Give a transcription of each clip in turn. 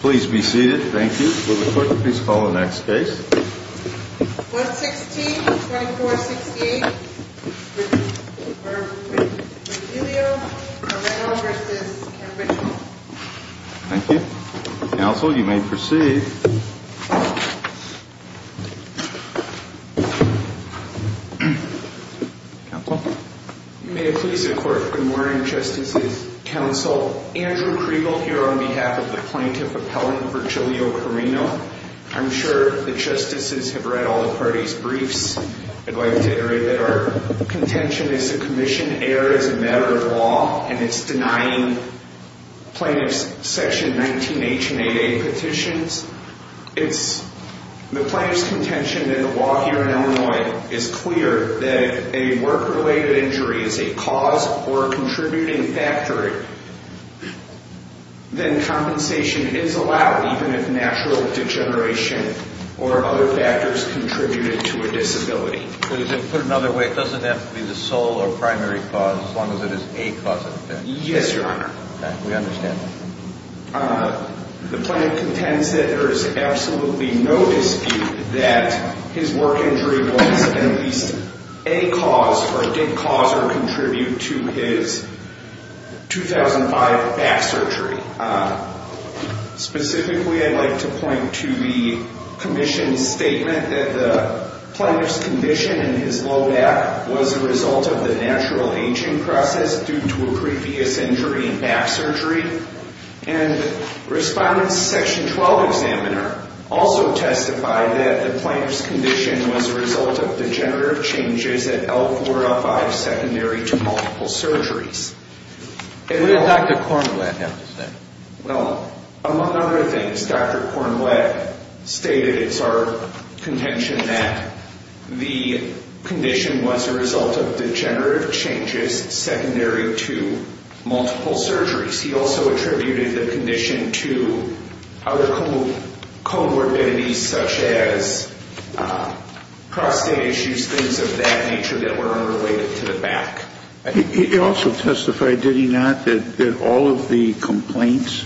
Please be seated. Thank you. Will the clerk please call the next case? 116-2468 Virgilio Carrino v. Campbell Thank you. Counsel, you may proceed. Good morning, Justices, Counsel. Andrew Kriegel here on behalf of the Plaintiff Appellant Virgilio Carrino. I'm sure the Justices have read all the parties' briefs. I'd like to iterate that our contention is the Commission erred as a matter of law, and it's denying plaintiffs' Section 19-H and 8-A petitions. The plaintiff's contention in the law here in Illinois is clear that if a work-related injury is a cause or a contributing factor, then compensation is allowed even if natural degeneration or other factors contributed to a disability. So to put it another way, it doesn't have to be the sole or primary cause as long as it is a cause of death? Yes, Your Honor. We understand that. The plaintiff contends that there is absolutely no dispute that his work injury was at least a cause or did cause or contribute to his 2005 back surgery. Specifically, I'd like to point to the Commission's statement that the plaintiff's condition in his low back was a result of the natural aging process due to a previous injury in back surgery. And Respondent's Section 12 Examiner also testified that the plaintiff's condition was a result of degenerative changes at L4-L5 secondary to multiple surgeries. What did Dr. Cornwett have to say? Well, among other things, Dr. Cornwett stated it's our contention that the condition was a result of degenerative changes secondary to multiple surgeries. He also attributed the condition to other comorbidities such as prostate issues, things of that nature that were unrelated to the back. He also testified, did he not, that all of the complaints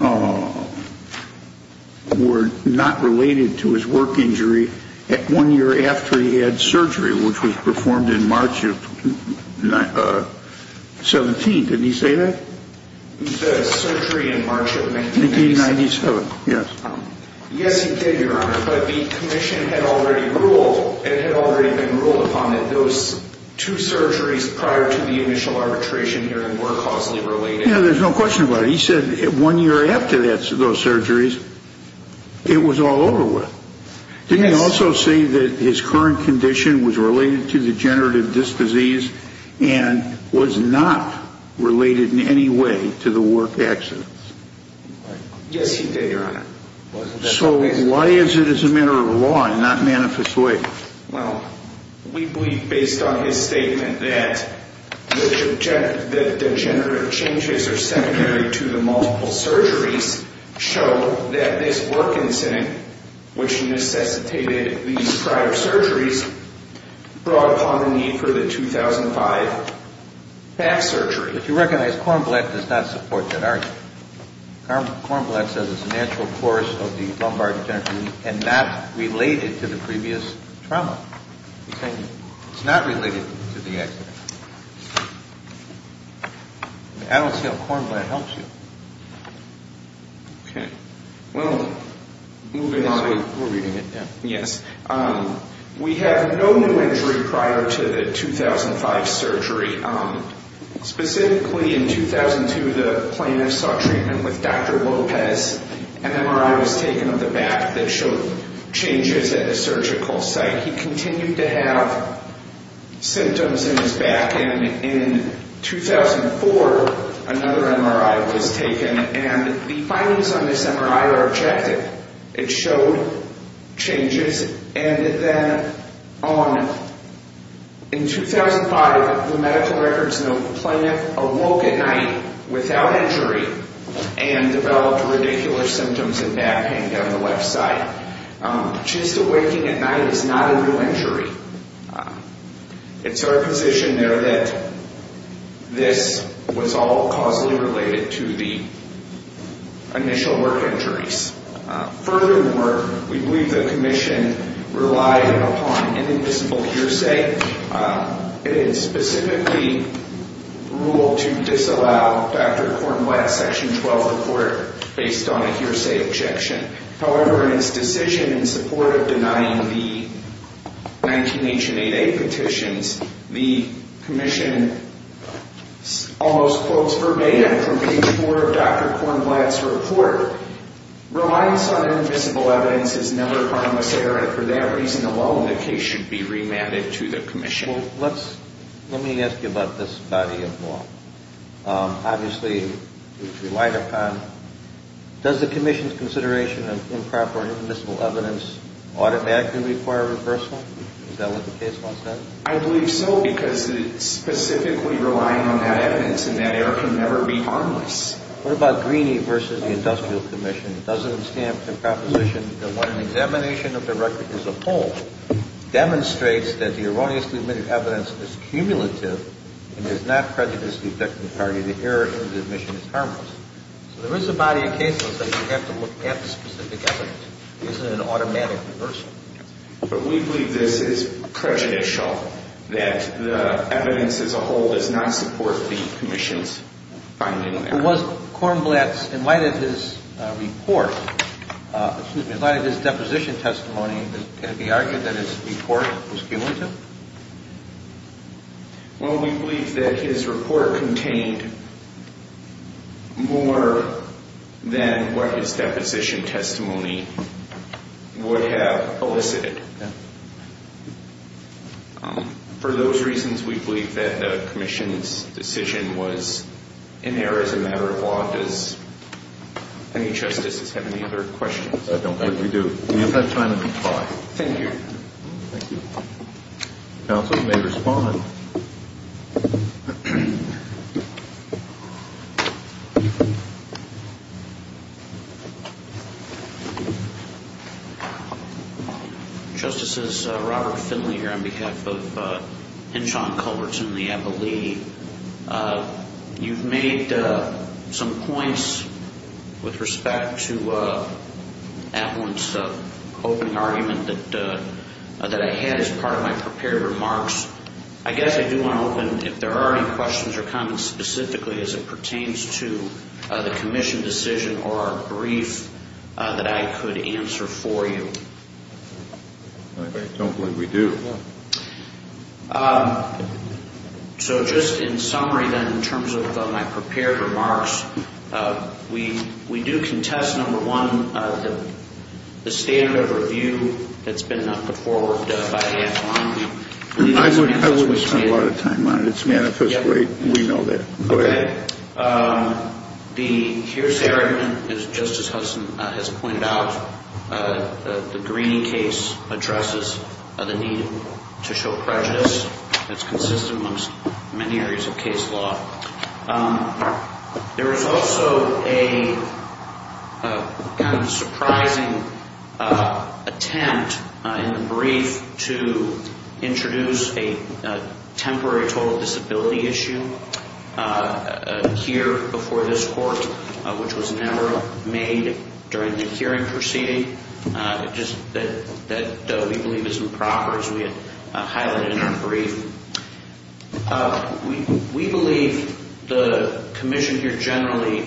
were not related to his work injury one year after he had surgery, which was performed in March of 17, didn't he say that? He said surgery in March of 1997. 1997, yes. Yes, he did, Your Honor, but the Commission had already ruled upon that those two surgeries prior to the initial arbitration hearing were causally related. Yeah, there's no question about it. He said one year after those surgeries, it was all over with. Didn't he also say that his current condition was related to degenerative disc disease and was not related in any way to the work accidents? Yes, he did, Your Honor. So why is it as a matter of law and not manifest way? Well, we believe based on his statement that the degenerative changes are secondary to the multiple surgeries show that this work incident, which necessitated these prior surgeries, brought upon the need for the 2005 back surgery. But you recognize Kornblatt does not support that argument. Kornblatt says it's a natural course of the lumbar degenerative and not related to the previous trauma. He's saying it's not related to the accident. I don't see how Kornblatt helps you. Okay. Well, moving on. We're reading it now. Yes. We have no new injury prior to the 2005 surgery. Specifically in 2002, the plaintiff saw treatment with Dr. Lopez. An MRI was taken of the back that showed changes at the surgical site. He continued to have symptoms in his back. And in 2004, another MRI was taken. And the findings on this MRI are objective. It showed changes. And then in 2005, the medical records note the plaintiff awoke at night without injury and developed radicular symptoms in back pain down the left side. Just awaking at night is not a new injury. It's our position there that this was all causally related to the initial work injuries. Furthermore, we believe the commission relied upon an invisible hearsay. It specifically ruled to disallow Dr. Kornblatt's Section 12 report based on a hearsay objection. However, in its decision in support of denying the 19-H and 8-A petitions, the commission almost quotes verbatim from page 4 of Dr. Kornblatt's report, relies on invisible evidence is never harmless error. And for that reason alone, the case should be remanded to the commission. Well, let me ask you about this body of law. Obviously, it's relied upon. Does the commission's consideration of improper and invisible evidence audit actually require reversal? Is that what the case law says? I believe so because it's specifically relying on that evidence and that error can never be harmless. What about Greeney versus the Industrial Commission? It doesn't stand for the proposition that when an examination of the record as a whole demonstrates that the erroneously admitted evidence is cumulative and does not prejudice the objecting party, the error in the admission is harmless. So there is a body of cases that you have to look at specific evidence. It isn't an automatic reversal. But we believe this is prejudicial, that the evidence as a whole does not support the commission's finding there. And was Kornblatt's, in light of his report, excuse me, in light of his deposition testimony, can it be argued that his report was cumulative? Well, we believe that his report contained more than what his deposition testimony would have elicited. For those reasons, we believe that the commission's decision was in error as a matter of law. Does any justices have any other questions? I don't think we do. We don't have time to reply. Thank you. Thank you. Counsel may respond. Justices, Robert Finley here on behalf of Henshaw and Culbertson in the Abilene. You've made some points with respect to Atwin's opening argument that I had as part of my prepared remarks. I guess I do want to open, if there are any questions or comments specifically as it pertains to the commission decision or our brief that I could answer for you. I don't believe we do. So just in summary, then, in terms of my prepared remarks, we do contest, number one, the standard of review that's been put forward by the ad hominem. I wouldn't spend a lot of time on it. It's manifestly, we know that. Okay. Here's the argument, as Justice Hudson has pointed out. The Greene case addresses the need to show prejudice. It's consistent amongst many areas of case law. There was also a kind of surprising attempt in the brief to introduce a temporary total disability issue here before this court, which was never made during the hearing proceeding, just that we believe is improper, as we had highlighted in our brief. We believe the commission here generally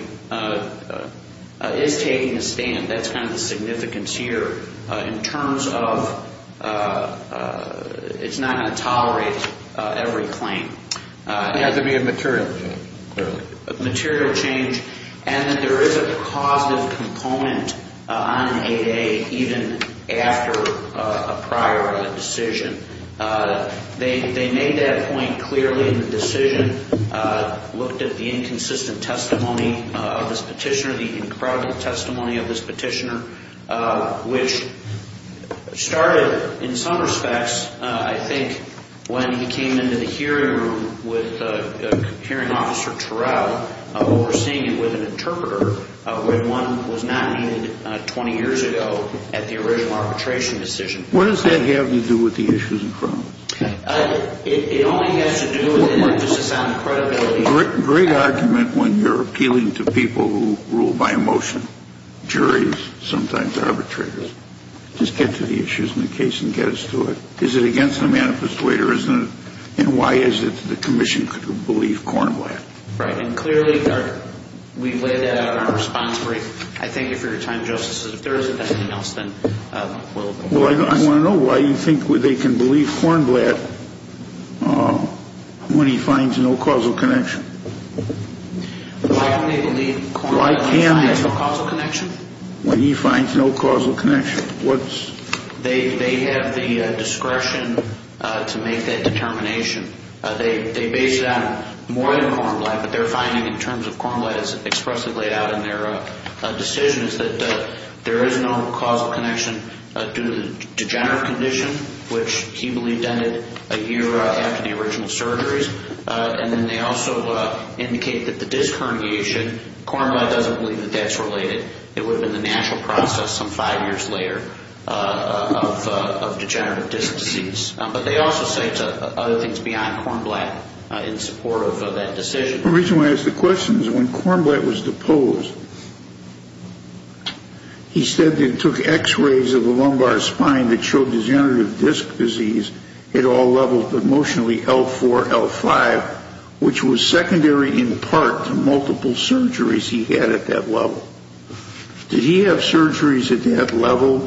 is taking a stand. That's kind of the significance here in terms of it's not going to tolerate every claim. It has to be a material change, clearly. A material change, and that there is a causative component on an 8A, even after a prior decision. They made that point clearly in the decision, looked at the inconsistent testimony of this petitioner, the incredible testimony of this petitioner, which started, in some respects, I think when he came into the hearing room with Hearing Officer Turrell, overseeing it with an interpreter when one was not needed 20 years ago at the original arbitration decision. What does that have to do with the issues in front of us? It only has to do with an emphasis on credibility. Great argument when you're appealing to people who rule by emotion, juries, sometimes arbitrators. Just get to the issues in the case and get us to it. Is it against the manifest way or isn't it? And why is it that the commission could believe Cornwell? Right, and clearly we've laid that out in our response brief. I thank you for your time, Justices. If there isn't anything else, then we'll move on. I want to know why you think they can believe Cornblatt when he finds no causal connection. Why can't they believe Cornblatt when he finds no causal connection? When he finds no causal connection. They have the discretion to make that determination. They base it on more than Cornblatt, but their finding in terms of Cornblatt is expressly laid out in their decision is that there is no causal connection due to the degenerative condition, which he believed ended a year after the original surgeries. And then they also indicate that the disc herniation, Cornblatt doesn't believe that that's related. It would have been the natural process some five years later of degenerative disc disease. But they also say other things beyond Cornblatt in support of that decision. The reason why I ask the question is when Cornblatt was deposed, he said that he took x-rays of the lumbar spine that showed degenerative disc disease at all levels, but mostly L4, L5, which was secondary in part to multiple surgeries he had at that level. Did he have surgeries at that level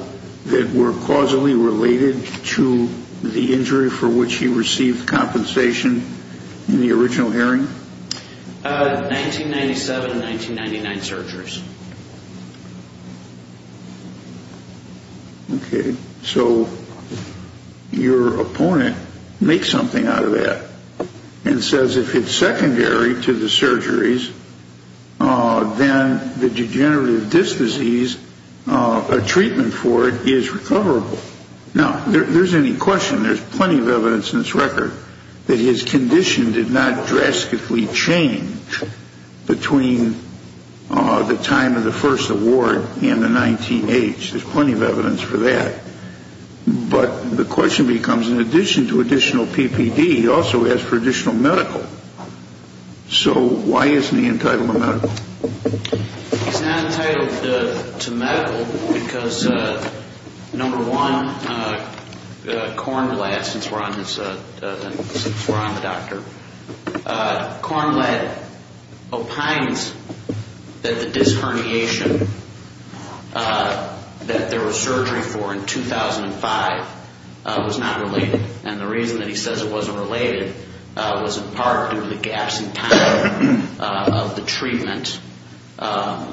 that were causally related to the injury for which he received compensation in the original hearing? 1997 and 1999 surgeries. Okay. So your opponent makes something out of that and says if it's secondary to the surgeries, then the degenerative disc disease, a treatment for it is recoverable. Now, there's any question. There's plenty of evidence in this record that his condition did not drastically change between the time of the first award and the 19-H. There's plenty of evidence for that. But the question becomes in addition to additional PPD, he also asked for additional medical. So why isn't he entitled to medical? He's not entitled to medical because, number one, Cornblatt, since we're on the doctor, Cornblatt opines that the disc herniation that there was surgery for in 2005 was not related. And the reason that he says it wasn't related was in part due to the gaps in time of the treatment. As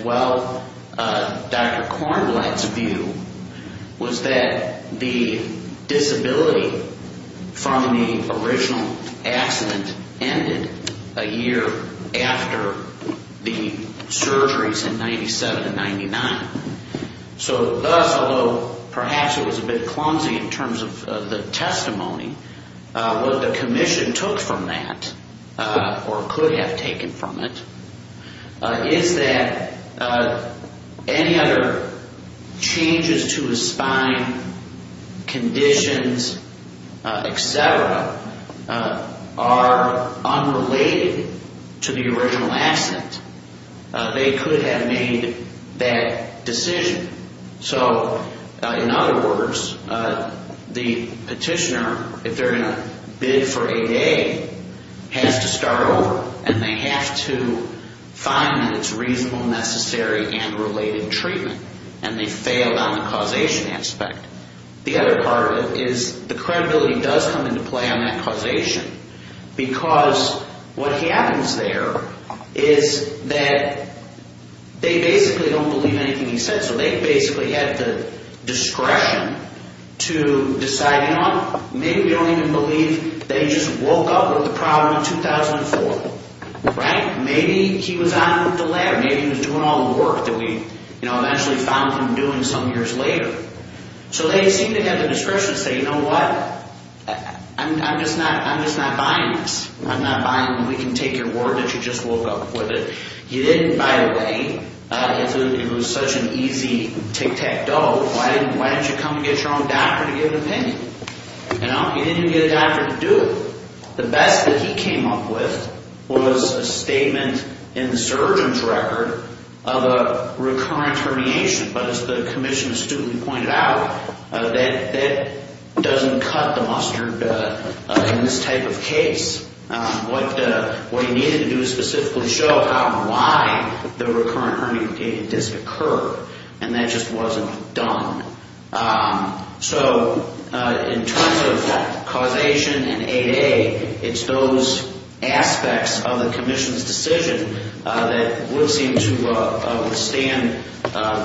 well, Dr. Cornblatt's view was that the disability from the original accident ended a year after the surgeries in 1997 and 1999. So thus, although perhaps it was a bit clumsy in terms of the testimony, what the commission took from that or could have taken from it is that any other changes to his spine, conditions, etc., are unrelated to the original accident. They could have made that decision. So in other words, the petitioner, if they're going to bid for ADA, has to start over. And they have to find that it's reasonable, necessary, and related treatment. And they failed on the causation aspect. The other part is the credibility does come into play on that causation because what happens there is that they basically don't believe anything he said. So they basically had the discretion to decide, you know what, maybe we don't even believe that he just woke up with the problem in 2004. Maybe he was on the ladder. Maybe he was doing all the work that we eventually found him doing some years later. So they seem to have the discretion to say, you know what, I'm just not buying this. I'm not buying we can take your word that you just woke up with it. You didn't, by the way, it was such an easy tic-tac-toe. Why didn't you come and get your own doctor to give an opinion? You know, you didn't even get a doctor to do it. The best that he came up with was a statement in the surgeon's record of a recurrent herniation. But as the commission astutely pointed out, that doesn't cut the mustard in this type of case. What he needed to do is specifically show how and why the recurrent hernia did occur, and that just wasn't done. So in terms of causation and 8A, it's those aspects of the commission's decision that would seem to withstand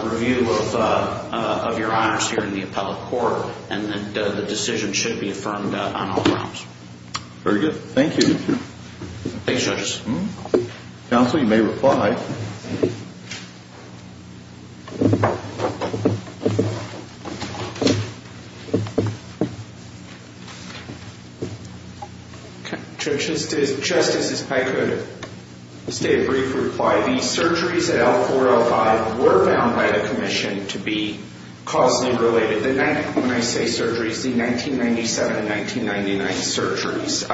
review of your honors here in the appellate court. And the decision should be affirmed on all grounds. Very good. Thank you. Thanks, judges. Counsel, you may reply. Just as if I could state a brief reply, the surgeries at L4, L5 were found by the commission to be causally related. When I say surgeries, the 1997 and 1999 surgeries.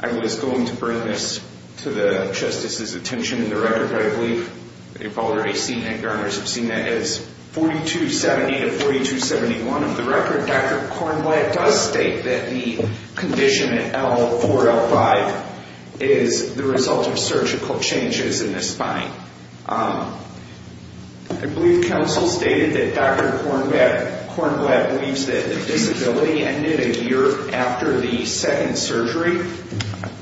I was going to bring this to the justice's attention in the record, but I believe you've already seen it. Your honors have seen it as 4270 to 4271 of the record. Dr. Kornblatt does state that the condition at L4, L5 is the result of surgical changes in the spine. I believe counsel stated that Dr. Kornblatt believes that the disability ended a year after the second surgery.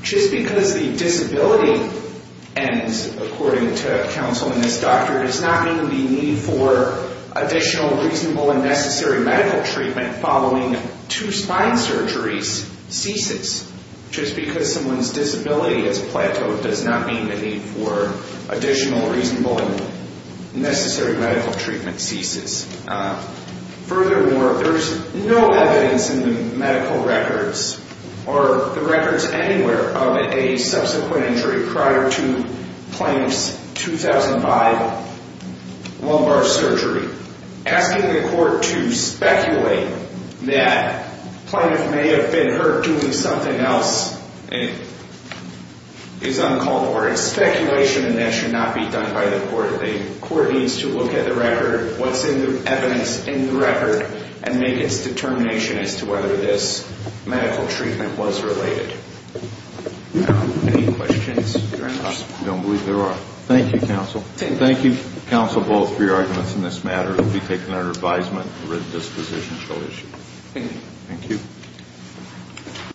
Just because the disability ends, according to counsel in this doctor, does not mean the need for additional reasonable and necessary medical treatment following two spine surgeries ceases. Just because someone's disability has plateaued does not mean the need for additional reasonable and necessary medical treatment ceases. Furthermore, there's no evidence in the medical records, or the records anywhere, of a subsequent injury prior to plaintiff's 2005 lumbar surgery. Asking the court to speculate that plaintiff may have been hurt doing something else is uncalled for. It's speculation, and that should not be done by the court. The court needs to look at the record, what's in the evidence in the record, and make its determination as to whether this medical treatment was related. Any questions? I don't believe there are. Thank you, counsel. Thank you, counsel, both, for your arguments in this matter. It will be taken under advisement. Thank you. Thank you.